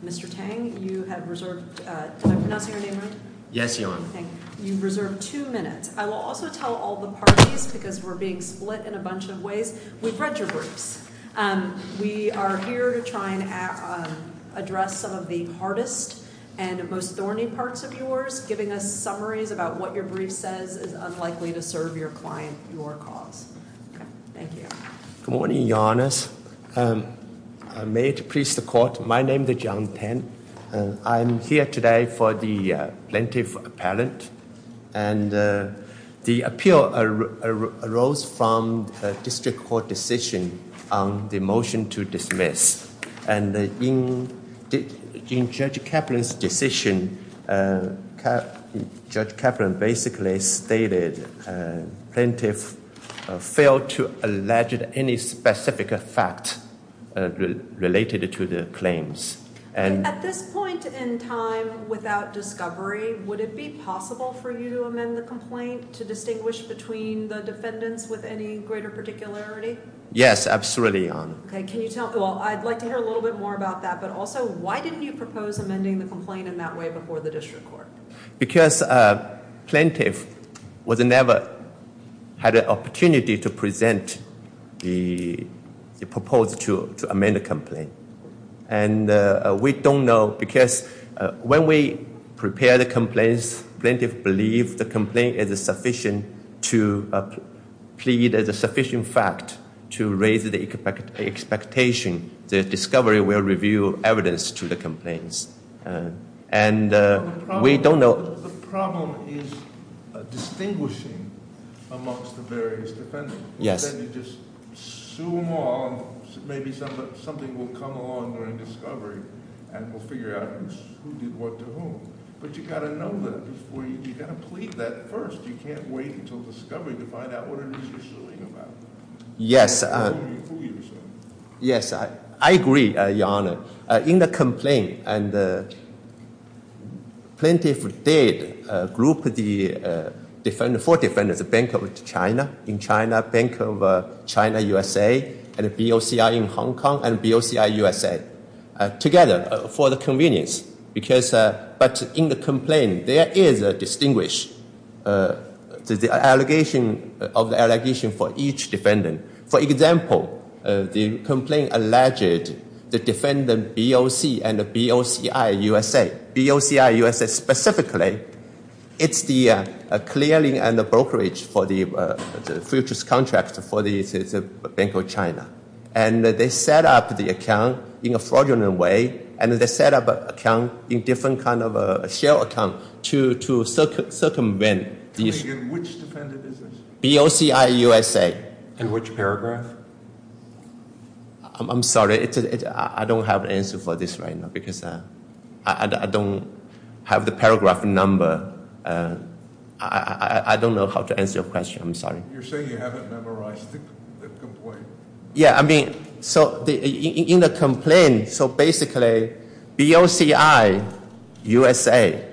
Mr. Tang, you have reserved two minutes. I will also tell all the parties, because we're being split in a bunch of ways, we've read your briefs. We are here to try and address some of the hardest and most thorny parts of yours, giving us summaries about what your brief says is unlikely to serve your client, your cause. Thank you. Good morning, Your Honors. May it please the Court, my name is Jiang Tan. I'm here today for the Plaintiff Appellant. And the appeal arose from a District Court decision on the motion to dismiss. And in Judge Kaplan's decision, Judge Kaplan basically stated Plaintiff failed to allege any specific fact related to the claims. At this point in time, without discovery, would it be possible for you to amend the complaint to distinguish between the defendants with any greater particularity? Yes, absolutely, Your Honor. Well, I'd like to hear a little bit more about that, but also, why didn't you propose amending the complaint in that way before the District Court? Because Plaintiff never had an opportunity to present the proposal to amend the complaint. And we don't know, because when we prepare the complaints, Plaintiff believes the complaint is sufficient to plead as a sufficient fact to raise the expectation that discovery will reveal evidence to the complaints. And we don't know— The problem is distinguishing amongst the various defendants. Yes. And then you just sue them all, maybe something will come along during discovery, and we'll figure out who did what to whom. But you've got to know that before you—you've got to plead that first. You can't wait until discovery to find out what it is you're suing about. Who you're suing. Yes, I agree, Your Honor. In the complaint, Plaintiff did group the defendants, four defendants, the Bank of China, Bank of China-USA, BOCI in Hong Kong, and BOCI-USA together for the convenience. But in the complaint, there is a distinguished allegation for each defendant. For example, the complaint alleged the defendant BOC and BOCI-USA. BOCI-USA specifically, it's the clearing and the brokerage for the futures contract for the Bank of China. And they set up the account in a fraudulent way, and they set up an account in different kind of a shell account to circumvent these— Which defendant is this? BOCI-USA. In which paragraph? I'm sorry. I don't have an answer for this right now because I don't have the paragraph number. I don't know how to answer your question. I'm sorry. You're saying you haven't memorized the complaint. Yeah, I mean, so in the complaint, so basically, BOCI-USA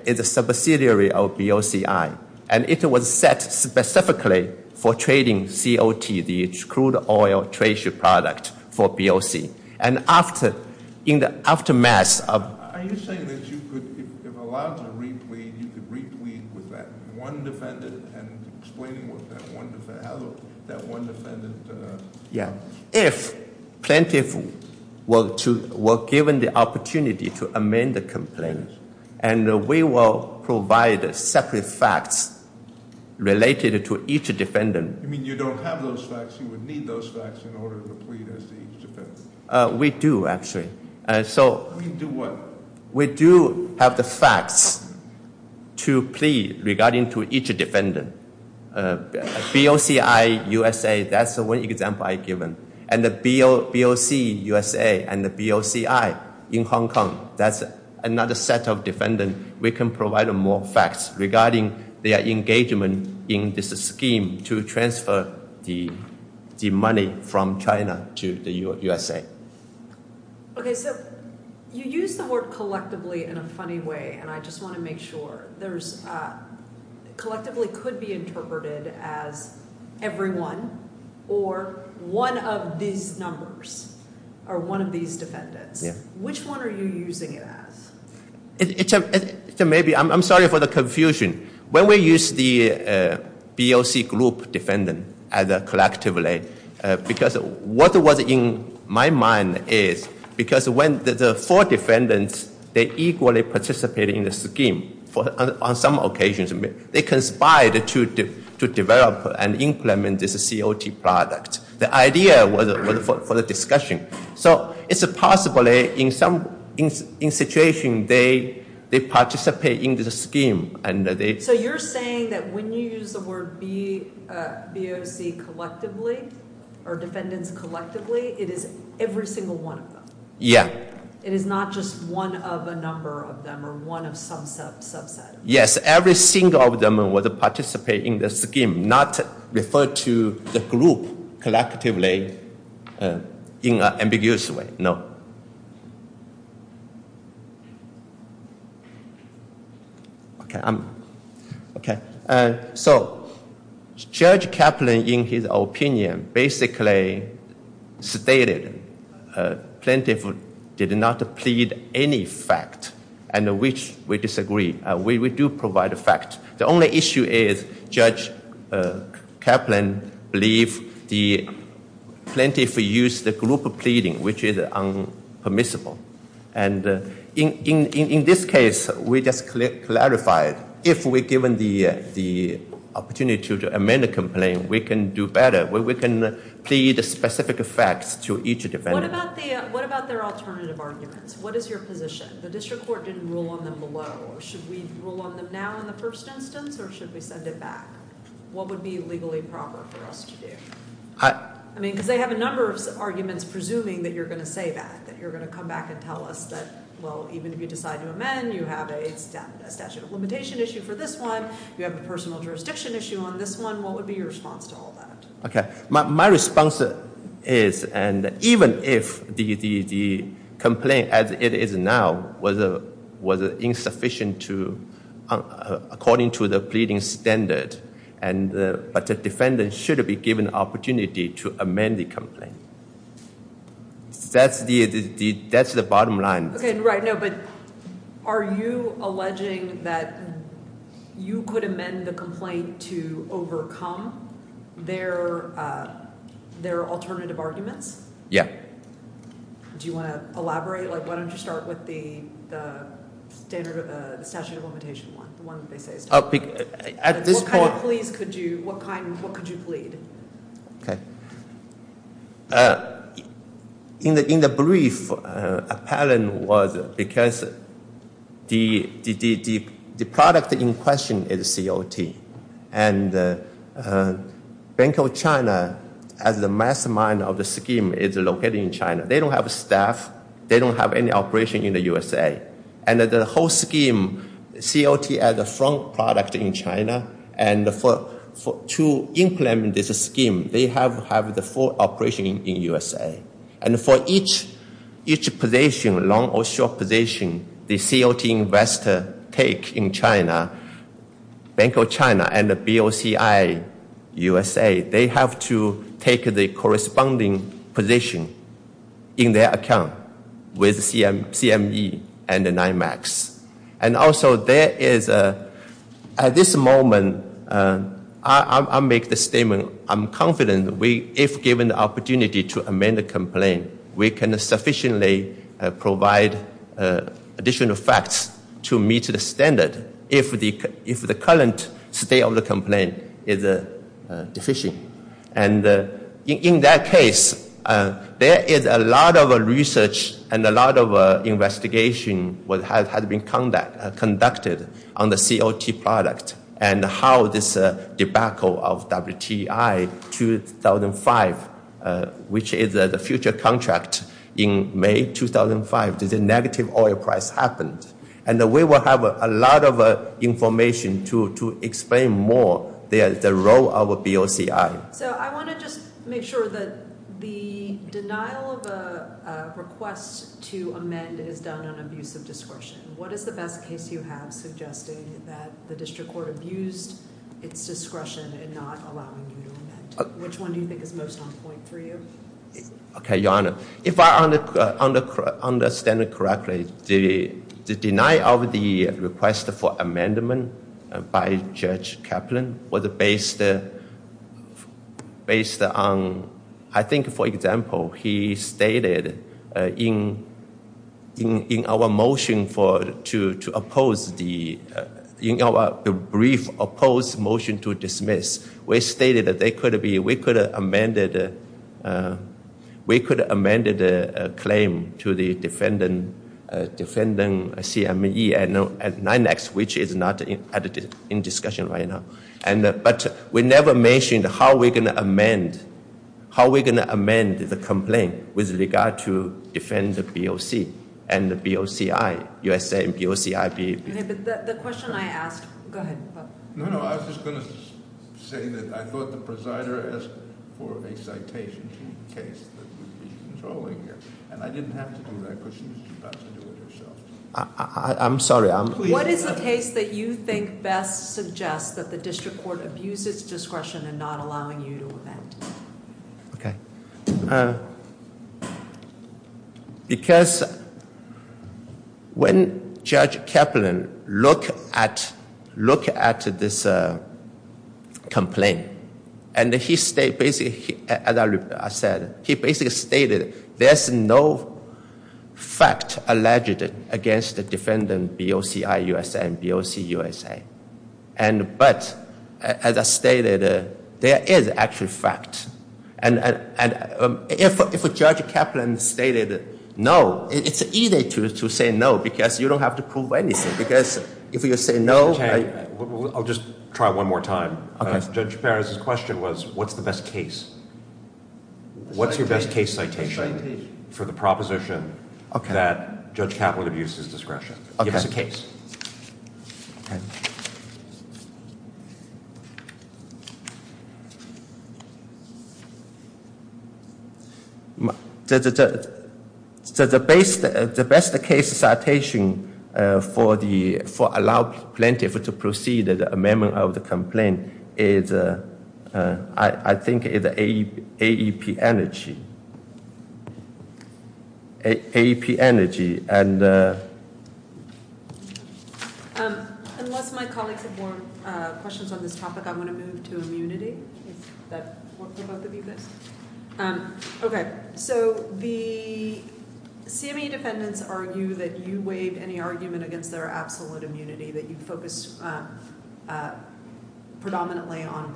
is a subsidiary of BOCI, and it was set specifically for trading COT, the crude oil trade share product for BOC. And after, in the aftermath of— Are you saying that you could, if allowed to reap weed, you could reap weed with that one defendant and explaining what that one defendant, how that one defendant— Yeah, if plaintiff were given the opportunity to amend the complaint, and we will provide separate facts related to each defendant— You mean you don't have those facts? You would need those facts in order to plead as to each defendant? We do, actually. You mean do what? We do have the facts to plead regarding to each defendant. BOCI-USA, that's the one example I've given. And the BOC-USA and the BOCI in Hong Kong, that's another set of defendant. And we can provide more facts regarding their engagement in this scheme to transfer the money from China to the USA. Okay, so you use the word collectively in a funny way, and I just want to make sure. There's—collectively could be interpreted as everyone or one of these numbers or one of these defendants. Yeah. Which one are you using it as? It's maybe—I'm sorry for the confusion. When we use the BOC group defendant collectively, because what was in my mind is because when the four defendants, they equally participate in the scheme on some occasions, they conspired to develop and implement this COT product. The idea was for the discussion. So it's possibly in some situation, they participate in the scheme and they— So you're saying that when you use the word BOC collectively or defendants collectively, it is every single one of them? Yeah. It is not just one of a number of them or one of some subset? Yes, every single of them would participate in the scheme, not refer to the group collectively in an ambiguous way, no. Okay, I'm—okay. So Judge Kaplan, in his opinion, basically stated plaintiff did not plead any fact and which we disagree. We do provide a fact. The only issue is Judge Kaplan believed the plaintiff used the group pleading, which is unpermissible. And in this case, we just clarified if we're given the opportunity to amend the complaint, we can do better. We can plead specific facts to each defendant. What about their alternative arguments? What is your position? The district court didn't rule on them below. Should we rule on them now in the first instance or should we send it back? What would be legally proper for us to do? I mean, because they have a number of arguments presuming that you're going to say that, that you're going to come back and tell us that, well, even if you decide to amend, you have a statute of limitation issue for this one. You have a personal jurisdiction issue on this one. What would be your response to all that? Okay. My response is, and even if the complaint as it is now was insufficient to, according to the pleading standard, but the defendant should be given the opportunity to amend the complaint. That's the bottom line. Okay, right. I know, but are you alleging that you could amend the complaint to overcome their alternative arguments? Yeah. Do you want to elaborate? Why don't you start with the statute of limitation one, the one that they say is tolerable. At this point. What kind of pleas could you, what kind, what could you plead? Okay. In the brief, apparent was because the product in question is COT. And Bank of China, as the mastermind of the scheme, is located in China. They don't have staff. They don't have any operation in the USA. And the whole scheme, COT as a front product in China, and to implement this scheme, they have the full operation in the USA. And for each position, long or short position, the COT investor take in China, Bank of China and BOCI USA, they have to take the corresponding position in their account with CME and NIMAX. And also, there is, at this moment, I'll make the statement, I'm confident, if given the opportunity to amend the complaint, we can sufficiently provide additional facts to meet the standard if the current state of the complaint is deficient. And in that case, there is a lot of research and a lot of investigation that has been conducted on the COT product and how this debacle of WTI 2005, which is the future contract in May 2005, the negative oil price happened. And we will have a lot of information to explain more the role of BOCI. So I want to just make sure that the denial of a request to amend is done on abuse of discretion. What is the best case you have suggesting that the district court abused its discretion in not allowing you to amend? Which one do you think is most on point for you? Okay, Your Honor. If I understand it correctly, the denial of the request for amendment by Judge Kaplan was based on, I think, for example, he stated in our motion to oppose, in our brief opposed motion to dismiss, we stated that we could amend the claim to the defendant CME at 9X, which is not in discussion right now. But we never mentioned how we're going to amend the complaint with regard to defend the BOC and the BOCI, USA and BOCI. Okay, but the question I asked, go ahead. No, no, I was just going to say that I thought the presider asked for a citation to the case that we'd be controlling here. And I didn't have to do that because she was about to do it herself. I'm sorry. What is the case that you think best suggests that the district court abused its discretion in not allowing you to amend? Okay. Because when Judge Kaplan looked at this complaint and he stated, as I said, he basically stated there's no fact alleged against the defendant BOCI, USA and BOC, USA. But as I stated, there is actual fact. And if Judge Kaplan stated no, it's easy to say no because you don't have to prove anything. Because if you say no – I'll just try one more time. Okay. Judge Perez's question was, what's the best case? What's your best case citation for the proposition that Judge Kaplan abused his discretion? Give us a case. Okay. So the best case citation for allowing plaintiff to proceed with the amendment of the complaint is, I think it's AEP Energy. AEP Energy. Unless my colleagues have more questions on this topic, I'm going to move to immunity. Is that for both of you guys? Okay. So the CME defendants argue that you waived any argument against their absolute immunity, that you focused predominantly on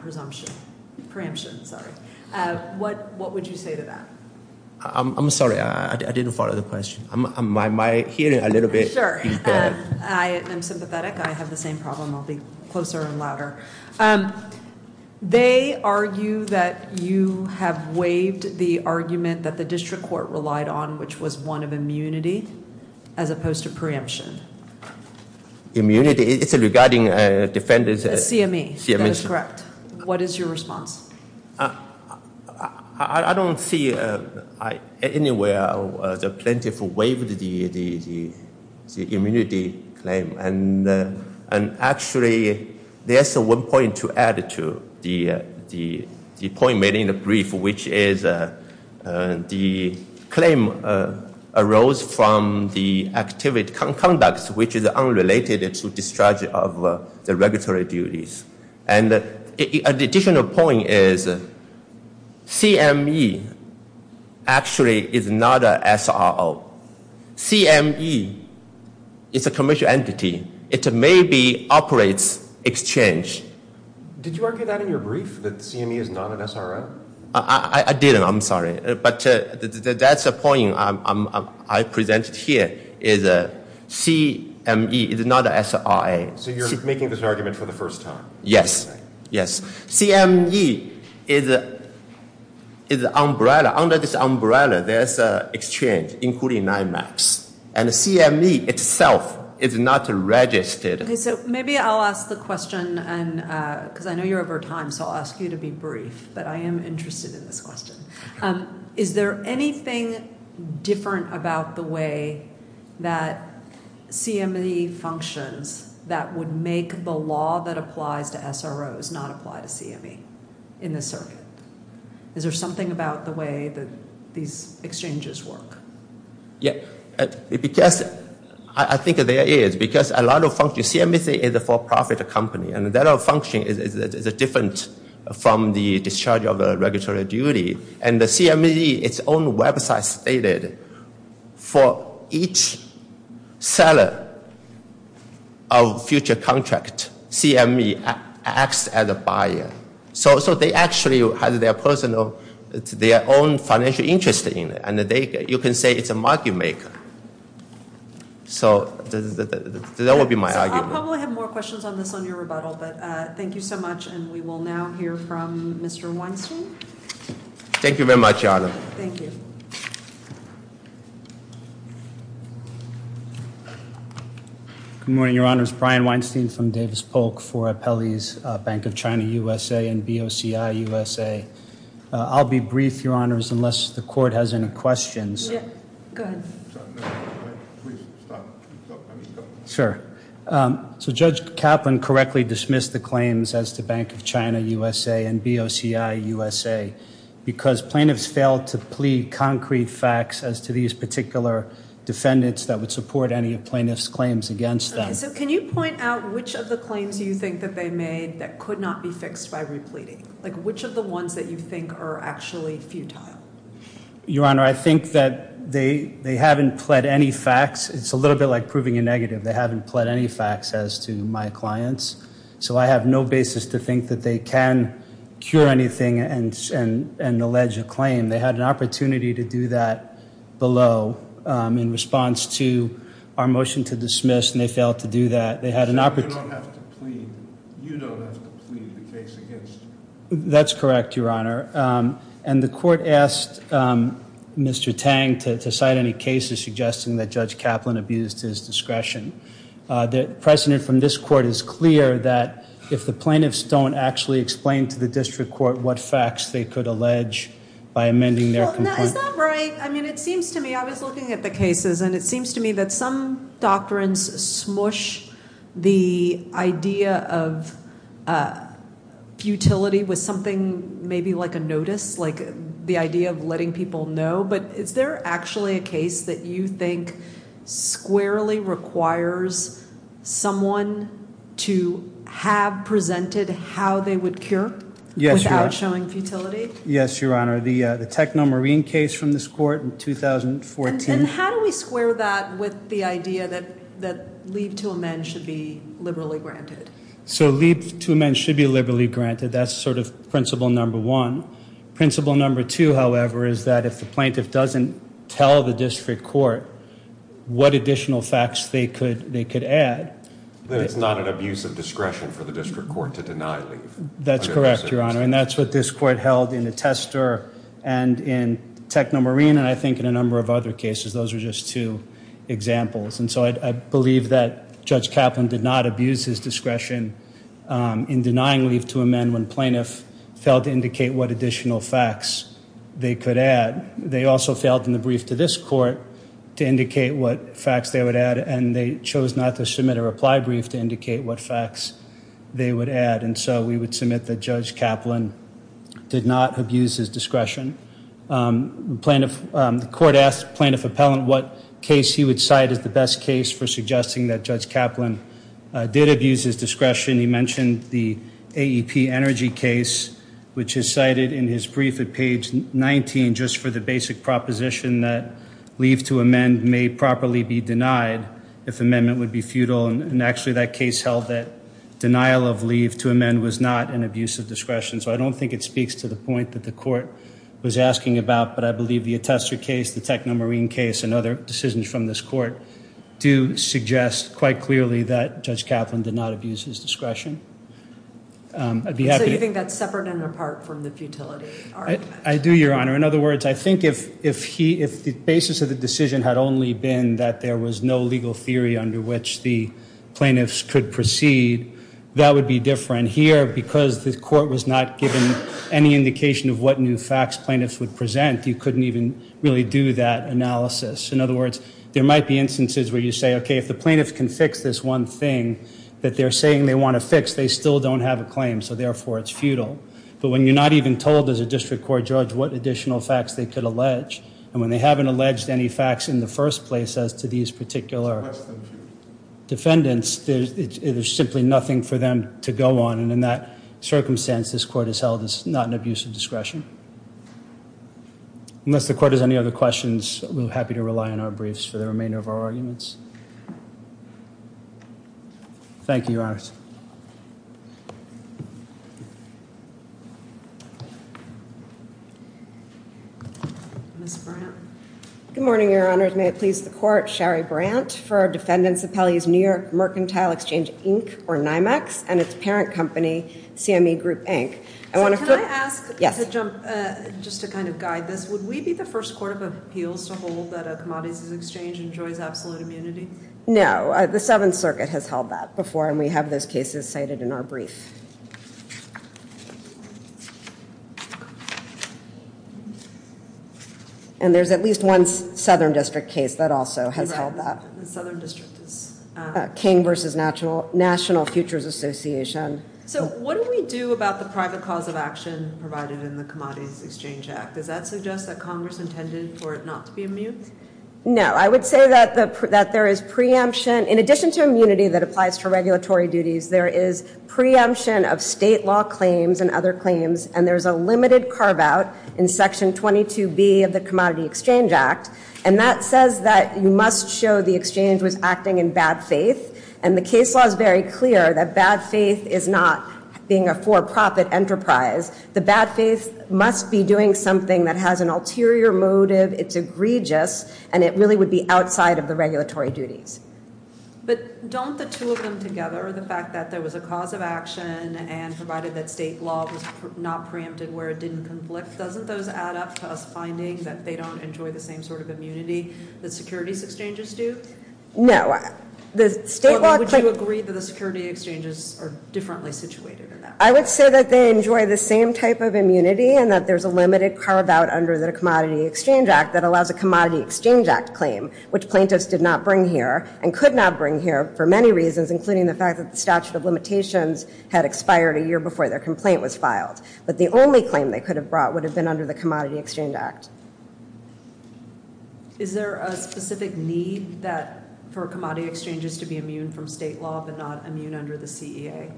preemption. What would you say to that? I'm sorry. I didn't follow the question. My hearing a little bit impaired. I'm sympathetic. I have the same problem. I'll be closer and louder. They argue that you have waived the argument that the district court relied on, which was one of immunity as opposed to preemption. Immunity. It's regarding defendants. The CME. That is correct. What is your response? I don't see anywhere the plaintiff waived the immunity claim. And actually, there's one point to add to the point made in the brief, which is the claim arose from the activity conducts, which is unrelated to discharge of the regulatory duties. And an additional point is CME actually is not an SRO. CME is a commercial entity. It maybe operates exchange. Did you argue that in your brief, that CME is not an SRO? I didn't. I'm sorry. But that's a point I presented here, is CME is not an SRO. So you're making this argument for the first time? Yes. CME is an umbrella. Under this umbrella, there's an exchange, including NIMAX. And CME itself is not registered. So maybe I'll ask the question, because I know you're over time, so I'll ask you to be brief. But I am interested in this question. Is there anything different about the way that CME functions that would make the law that applies to SROs not apply to CME in this circuit? Is there something about the way that these exchanges work? Yes. I think there is, because a lot of functions, CME is a for-profit company, and that function is different from the discharge of regulatory duty. And the CME, its own website stated, for each seller of future contract, CME acts as a buyer. So they actually have their own financial interest in it. And you can say it's a market maker. So that would be my argument. We probably have more questions on this on your rebuttal, but thank you so much. And we will now hear from Mr. Weinstein. Thank you very much, Your Honor. Thank you. Good morning, Your Honors. Brian Weinstein from Davis Polk for Appellees Bank of China USA and BOCI USA. I'll be brief, Your Honors, unless the court has any questions. Go ahead. Please, stop. Sure. So Judge Kaplan correctly dismissed the claims as to Bank of China USA and BOCI USA because plaintiffs failed to plead concrete facts as to these particular defendants that would support any of plaintiffs' claims against them. Okay. So can you point out which of the claims do you think that they made that could not be fixed by repleting? Like which of the ones that you think are actually futile? Your Honor, I think that they haven't pled any facts. It's a little bit like proving a negative. They haven't pled any facts as to my clients. So I have no basis to think that they can cure anything and allege a claim. They had an opportunity to do that below in response to our motion to dismiss, and they failed to do that. You don't have to plead. You don't have to plead the case against. That's correct, Your Honor. And the court asked Mr. Tang to cite any cases suggesting that Judge Kaplan abused his discretion. The precedent from this court is clear that if the plaintiffs don't actually explain to the district court what facts they could allege by amending their complaint. Is that right? I mean, it seems to me. I was looking at the cases, and it seems to me that some doctrines smush the idea of futility with something maybe like a notice, like the idea of letting people know. But is there actually a case that you think squarely requires someone to have presented how they would cure without showing futility? Yes, Your Honor. The Techno Marine case from this court in 2014. And how do we square that with the idea that leave to amend should be liberally granted? So leave to amend should be liberally granted. That's sort of principle number one. Principle number two, however, is that if the plaintiff doesn't tell the district court what additional facts they could add. That it's not an abuse of discretion for the district court to deny leave. That's correct, Your Honor. And that's what this court held in the Tester and in Techno Marine, and I think in a number of other cases. Those are just two examples. And so I believe that Judge Kaplan did not abuse his discretion in denying leave to amend when plaintiff failed to indicate what additional facts they could add. They also failed in the brief to this court to indicate what facts they would add, and they chose not to submit a reply brief to indicate what facts they would add. And so we would submit that Judge Kaplan did not abuse his discretion. The court asked plaintiff appellant what case he would cite as the best case for suggesting that Judge Kaplan did abuse his discretion. He mentioned the AEP Energy case, which is cited in his brief at page 19, just for the basic proposition that leave to amend may properly be denied if amendment would be futile. And actually that case held that denial of leave to amend was not an abuse of discretion. So I don't think it speaks to the point that the court was asking about, but I believe the Tester case, the Techno Marine case, and other decisions from this court do suggest quite clearly that Judge Kaplan did not abuse his discretion. So you think that's separate and apart from the futility argument? I do, Your Honor. In other words, I think if the basis of the decision had only been that there was no legal theory under which the plaintiffs could proceed, that would be different. Here, because the court was not given any indication of what new facts plaintiffs would present, you couldn't even really do that analysis. In other words, there might be instances where you say, okay, if the plaintiffs can fix this one thing that they're saying they want to fix, they still don't have a claim, so therefore it's futile. But when you're not even told as a district court judge what additional facts they could allege, and when they haven't alleged any facts in the first place as to these particular defendants, there's simply nothing for them to go on. And in that circumstance, this court has held this not an abuse of discretion. Unless the court has any other questions, we're happy to rely on our briefs for the remainder of our arguments. Thank you, Your Honors. Ms. Brandt. Good morning, Your Honors. May it please the court, Shari Brandt for Defendants' Appellees New York Mercantile Exchange, Inc., or NYMEX, and its parent company, CME Group, Inc. Can I ask, just to kind of guide this, would we be the first court of appeals to hold that a commodities exchange enjoys absolute immunity? No. The Seventh Circuit has held that before, and we have those cases cited in our brief. And there's at least one Southern District case that also has held that. The Southern District is? King v. National Futures Association. So what do we do about the private cause of action provided in the Commodities Exchange Act? Does that suggest that Congress intended for it not to be immune? No. I would say that there is preemption. In addition to immunity that applies to regulatory duties, there is preemption of state law claims and other claims, and there's a limited carve-out in Section 22B of the Commodities Exchange Act, and that says that you must show the exchange was acting in bad faith, and the case law is very clear that bad faith is not being a for-profit enterprise. The bad faith must be doing something that has an ulterior motive, it's egregious, and it really would be outside of the regulatory duties. But don't the two of them together, the fact that there was a cause of action and provided that state law was not preempted where it didn't conflict, doesn't those add up to us finding that they don't enjoy the same sort of immunity that securities exchanges do? No. Would you agree that the security exchanges are differently situated in that? I would say that they enjoy the same type of immunity and that there's a limited carve-out under the Commodities Exchange Act that allows a Commodities Exchange Act claim, which plaintiffs did not bring here and could not bring here for many reasons, including the fact that the statute of limitations had expired a year before their complaint was filed. But the only claim they could have brought would have been under the Commodities Exchange Act. Is there a specific need for commodities exchanges to be immune from state law but not immune under the CEA?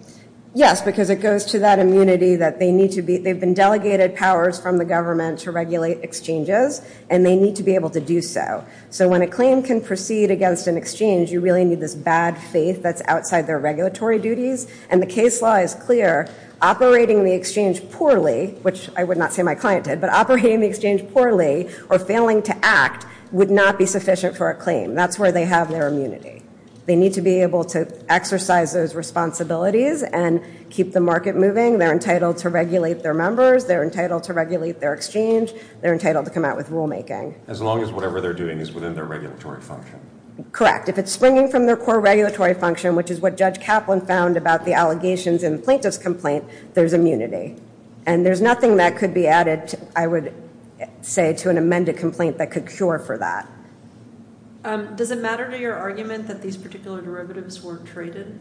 Yes, because it goes to that immunity that they need to be. They've been delegated powers from the government to regulate exchanges, and they need to be able to do so. So when a claim can proceed against an exchange, you really need this bad faith that's outside their regulatory duties. And the case law is clear, operating the exchange poorly, which I would not say my client did, but operating the exchange poorly or failing to act would not be sufficient for a claim. That's where they have their immunity. They need to be able to exercise those responsibilities and keep the market moving. They're entitled to regulate their members. They're entitled to regulate their exchange. They're entitled to come out with rulemaking. As long as whatever they're doing is within their regulatory function. Correct. If it's springing from their core regulatory function, which is what Judge Kaplan found about the allegations in the plaintiff's complaint, there's immunity. And there's nothing that could be added, I would say, to an amended complaint that could cure for that. Does it matter to your argument that these particular derivatives were traded?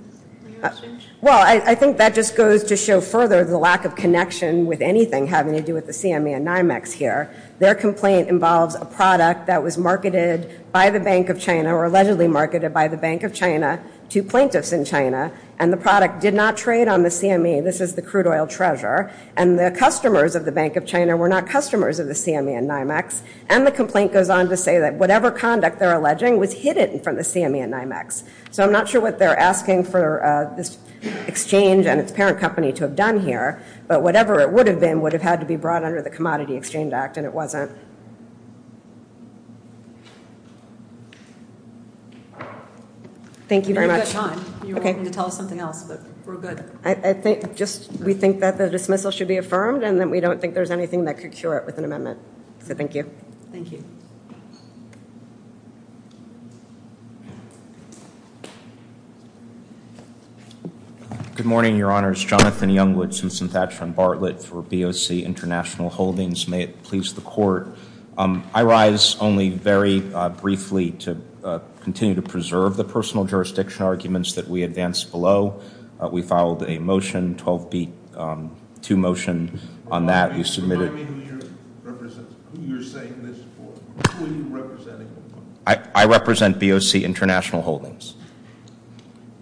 Well, I think that just goes to show further the lack of connection with anything having to do with the CME and NYMEX here. Their complaint involves a product that was marketed by the Bank of China or allegedly marketed by the Bank of China to plaintiffs in China, and the product did not trade on the CME. This is the crude oil treasure. And the customers of the Bank of China were not customers of the CME and NYMEX. And the complaint goes on to say that whatever conduct they're alleging was hidden from the CME and NYMEX. So I'm not sure what they're asking for this exchange and its parent company to have done here, but whatever it would have been would have had to be brought under the Commodity Exchange Act, and it wasn't. Thank you very much. You had a good time. You were going to tell us something else, but we're good. We think that the dismissal should be affirmed, and that we don't think there's anything that could cure it with an amendment. So thank you. Thank you. Good morning, Your Honors. Jonathan Youngwood, Susan Thatcher and Bartlett for BOC International Holdings. May it please the Court. I rise only very briefly to continue to preserve the personal jurisdiction arguments that we advanced below. We filed a motion, 12-2 motion on that. Who are you representing? I represent BOC International Holdings,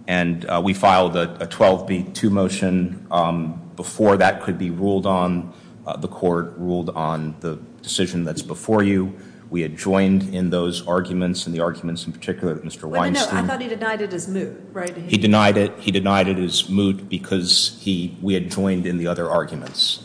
and we filed a 12-2 motion before that could be ruled on. The Court ruled on the decision that's before you. We had joined in those arguments and the arguments in particular that Mr. Weinstein. I thought he denied it as moot. He denied it. He denied it as moot because we had joined in the other arguments.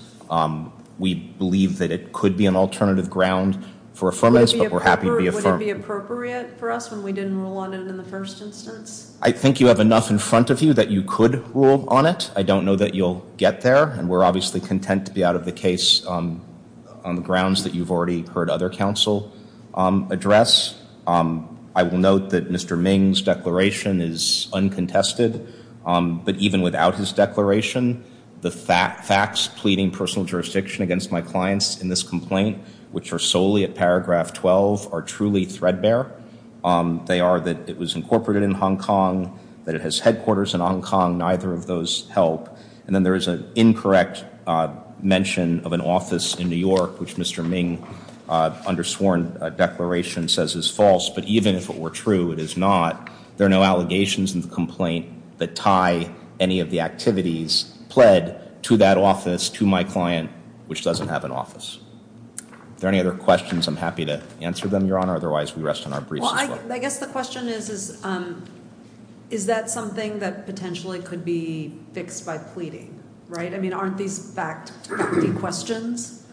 We believe that it could be an alternative ground for affirmance, but we're happy to be affirmed. Would it be appropriate for us when we didn't rule on it in the first instance? I think you have enough in front of you that you could rule on it. I don't know that you'll get there, and we're obviously content to be out of the case on the grounds that you've already heard other counsel address. I will note that Mr. Ming's declaration is uncontested, but even without his declaration, the facts pleading personal jurisdiction against my clients in this complaint, which are solely at paragraph 12, are truly threadbare. They are that it was incorporated in Hong Kong, that it has headquarters in Hong Kong. Neither of those help. And then there is an incorrect mention of an office in New York, which Mr. Ming, under sworn declaration, says is false. But even if it were true, it is not. There are no allegations in the complaint that tie any of the activities pled to that office, to my client, which doesn't have an office. Are there any other questions? I'm happy to answer them, Your Honor. Otherwise, we rest on our briefs. Well, I guess the question is, is that something that potentially could be fixed by pleading? Right? I mean, aren't these fact-bending questions?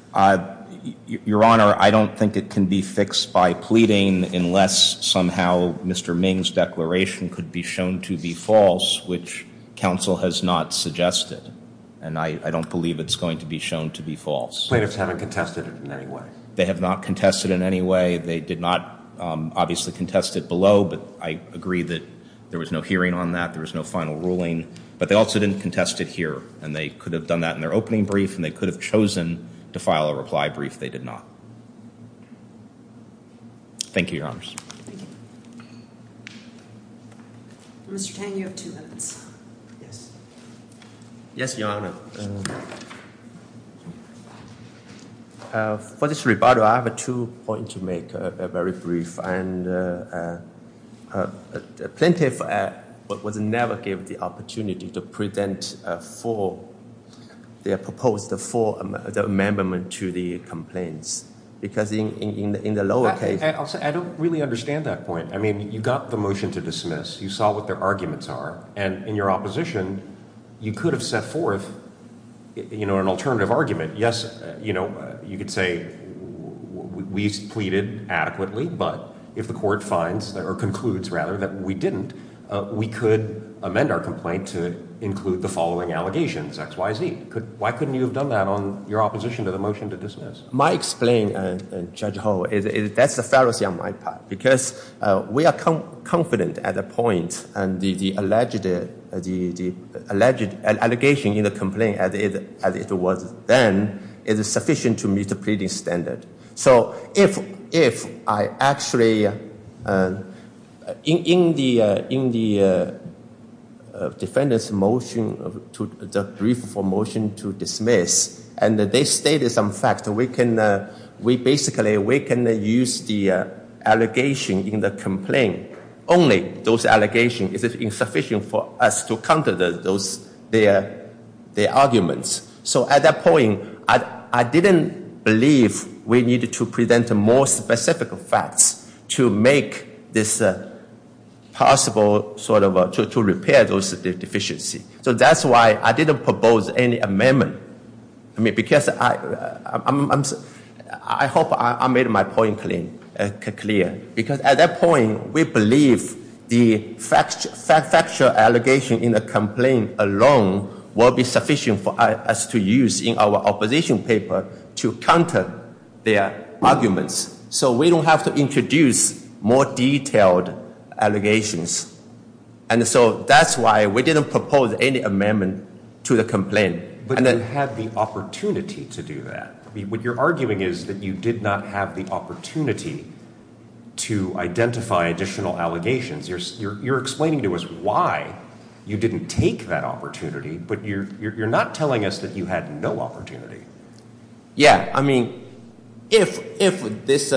Your Honor, I don't think it can be fixed by pleading, unless somehow Mr. Ming's declaration could be shown to be false, which counsel has not suggested. And I don't believe it's going to be shown to be false. Plaintiffs haven't contested it in any way. They have not contested it in any way. They did not, obviously, contest it below. But I agree that there was no hearing on that. There was no final ruling. But they also didn't contest it here. And they could have done that in their opening brief, and they could have chosen to file a reply brief. They did not. Thank you, Your Honor. Thank you. Mr. Tang, you have two minutes. Yes. Yes, Your Honor. For this rebuttal, I have two points to make, very brief. And the plaintiff was never given the opportunity to present for their proposed amendment to the complaints. Because in the lower case ---- I don't really understand that point. I mean, you got the motion to dismiss. You saw what their arguments are. And in your opposition, you could have set forth an alternative argument. Yes, you know, you could say we pleaded adequately, but if the court finds or concludes, rather, that we didn't, we could amend our complaint to include the following allegations, X, Y, Z. Why couldn't you have done that on your opposition to the motion to dismiss? My explanation, Judge Hall, that's a fallacy on my part. Because we are confident at the point, and the alleged allegation in the complaint as it was then is sufficient to meet the pleading standard. So if I actually, in the defendant's motion, the brief for motion to dismiss, and they stated some facts, we can basically use the allegation in the complaint. Only those allegations is insufficient for us to counter their arguments. So at that point, I didn't believe we needed to present more specific facts to make this possible sort of, to repair those deficiencies. So that's why I didn't propose any amendment. I mean, because I hope I made my point clear. Because at that point, we believe the factual allegation in the complaint alone will be sufficient for us to use in our opposition paper to counter their arguments. So we don't have to introduce more detailed allegations. And so that's why we didn't propose any amendment to the complaint. But you had the opportunity to do that. What you're arguing is that you did not have the opportunity to identify additional allegations. You're explaining to us why you didn't take that opportunity. But you're not telling us that you had no opportunity. Yeah. I mean, if this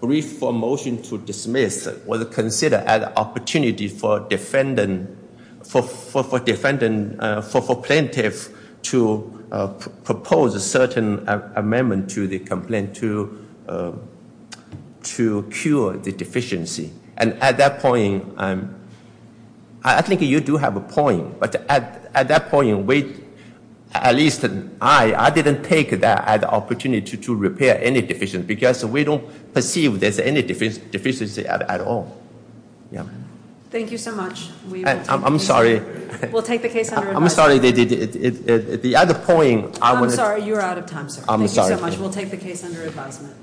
brief for motion to dismiss was considered an opportunity for plaintiff to propose a certain amendment to the complaint to cure the deficiency. And at that point, I think you do have a point. But at that point, at least I didn't take that opportunity to repair any deficiency. Because we don't perceive there's any deficiency at all. Thank you so much. I'm sorry. We'll take the case under advisement. I'm sorry. The other point. I'm sorry. You're out of time, sir. Thank you so much. We'll take the case under advisement.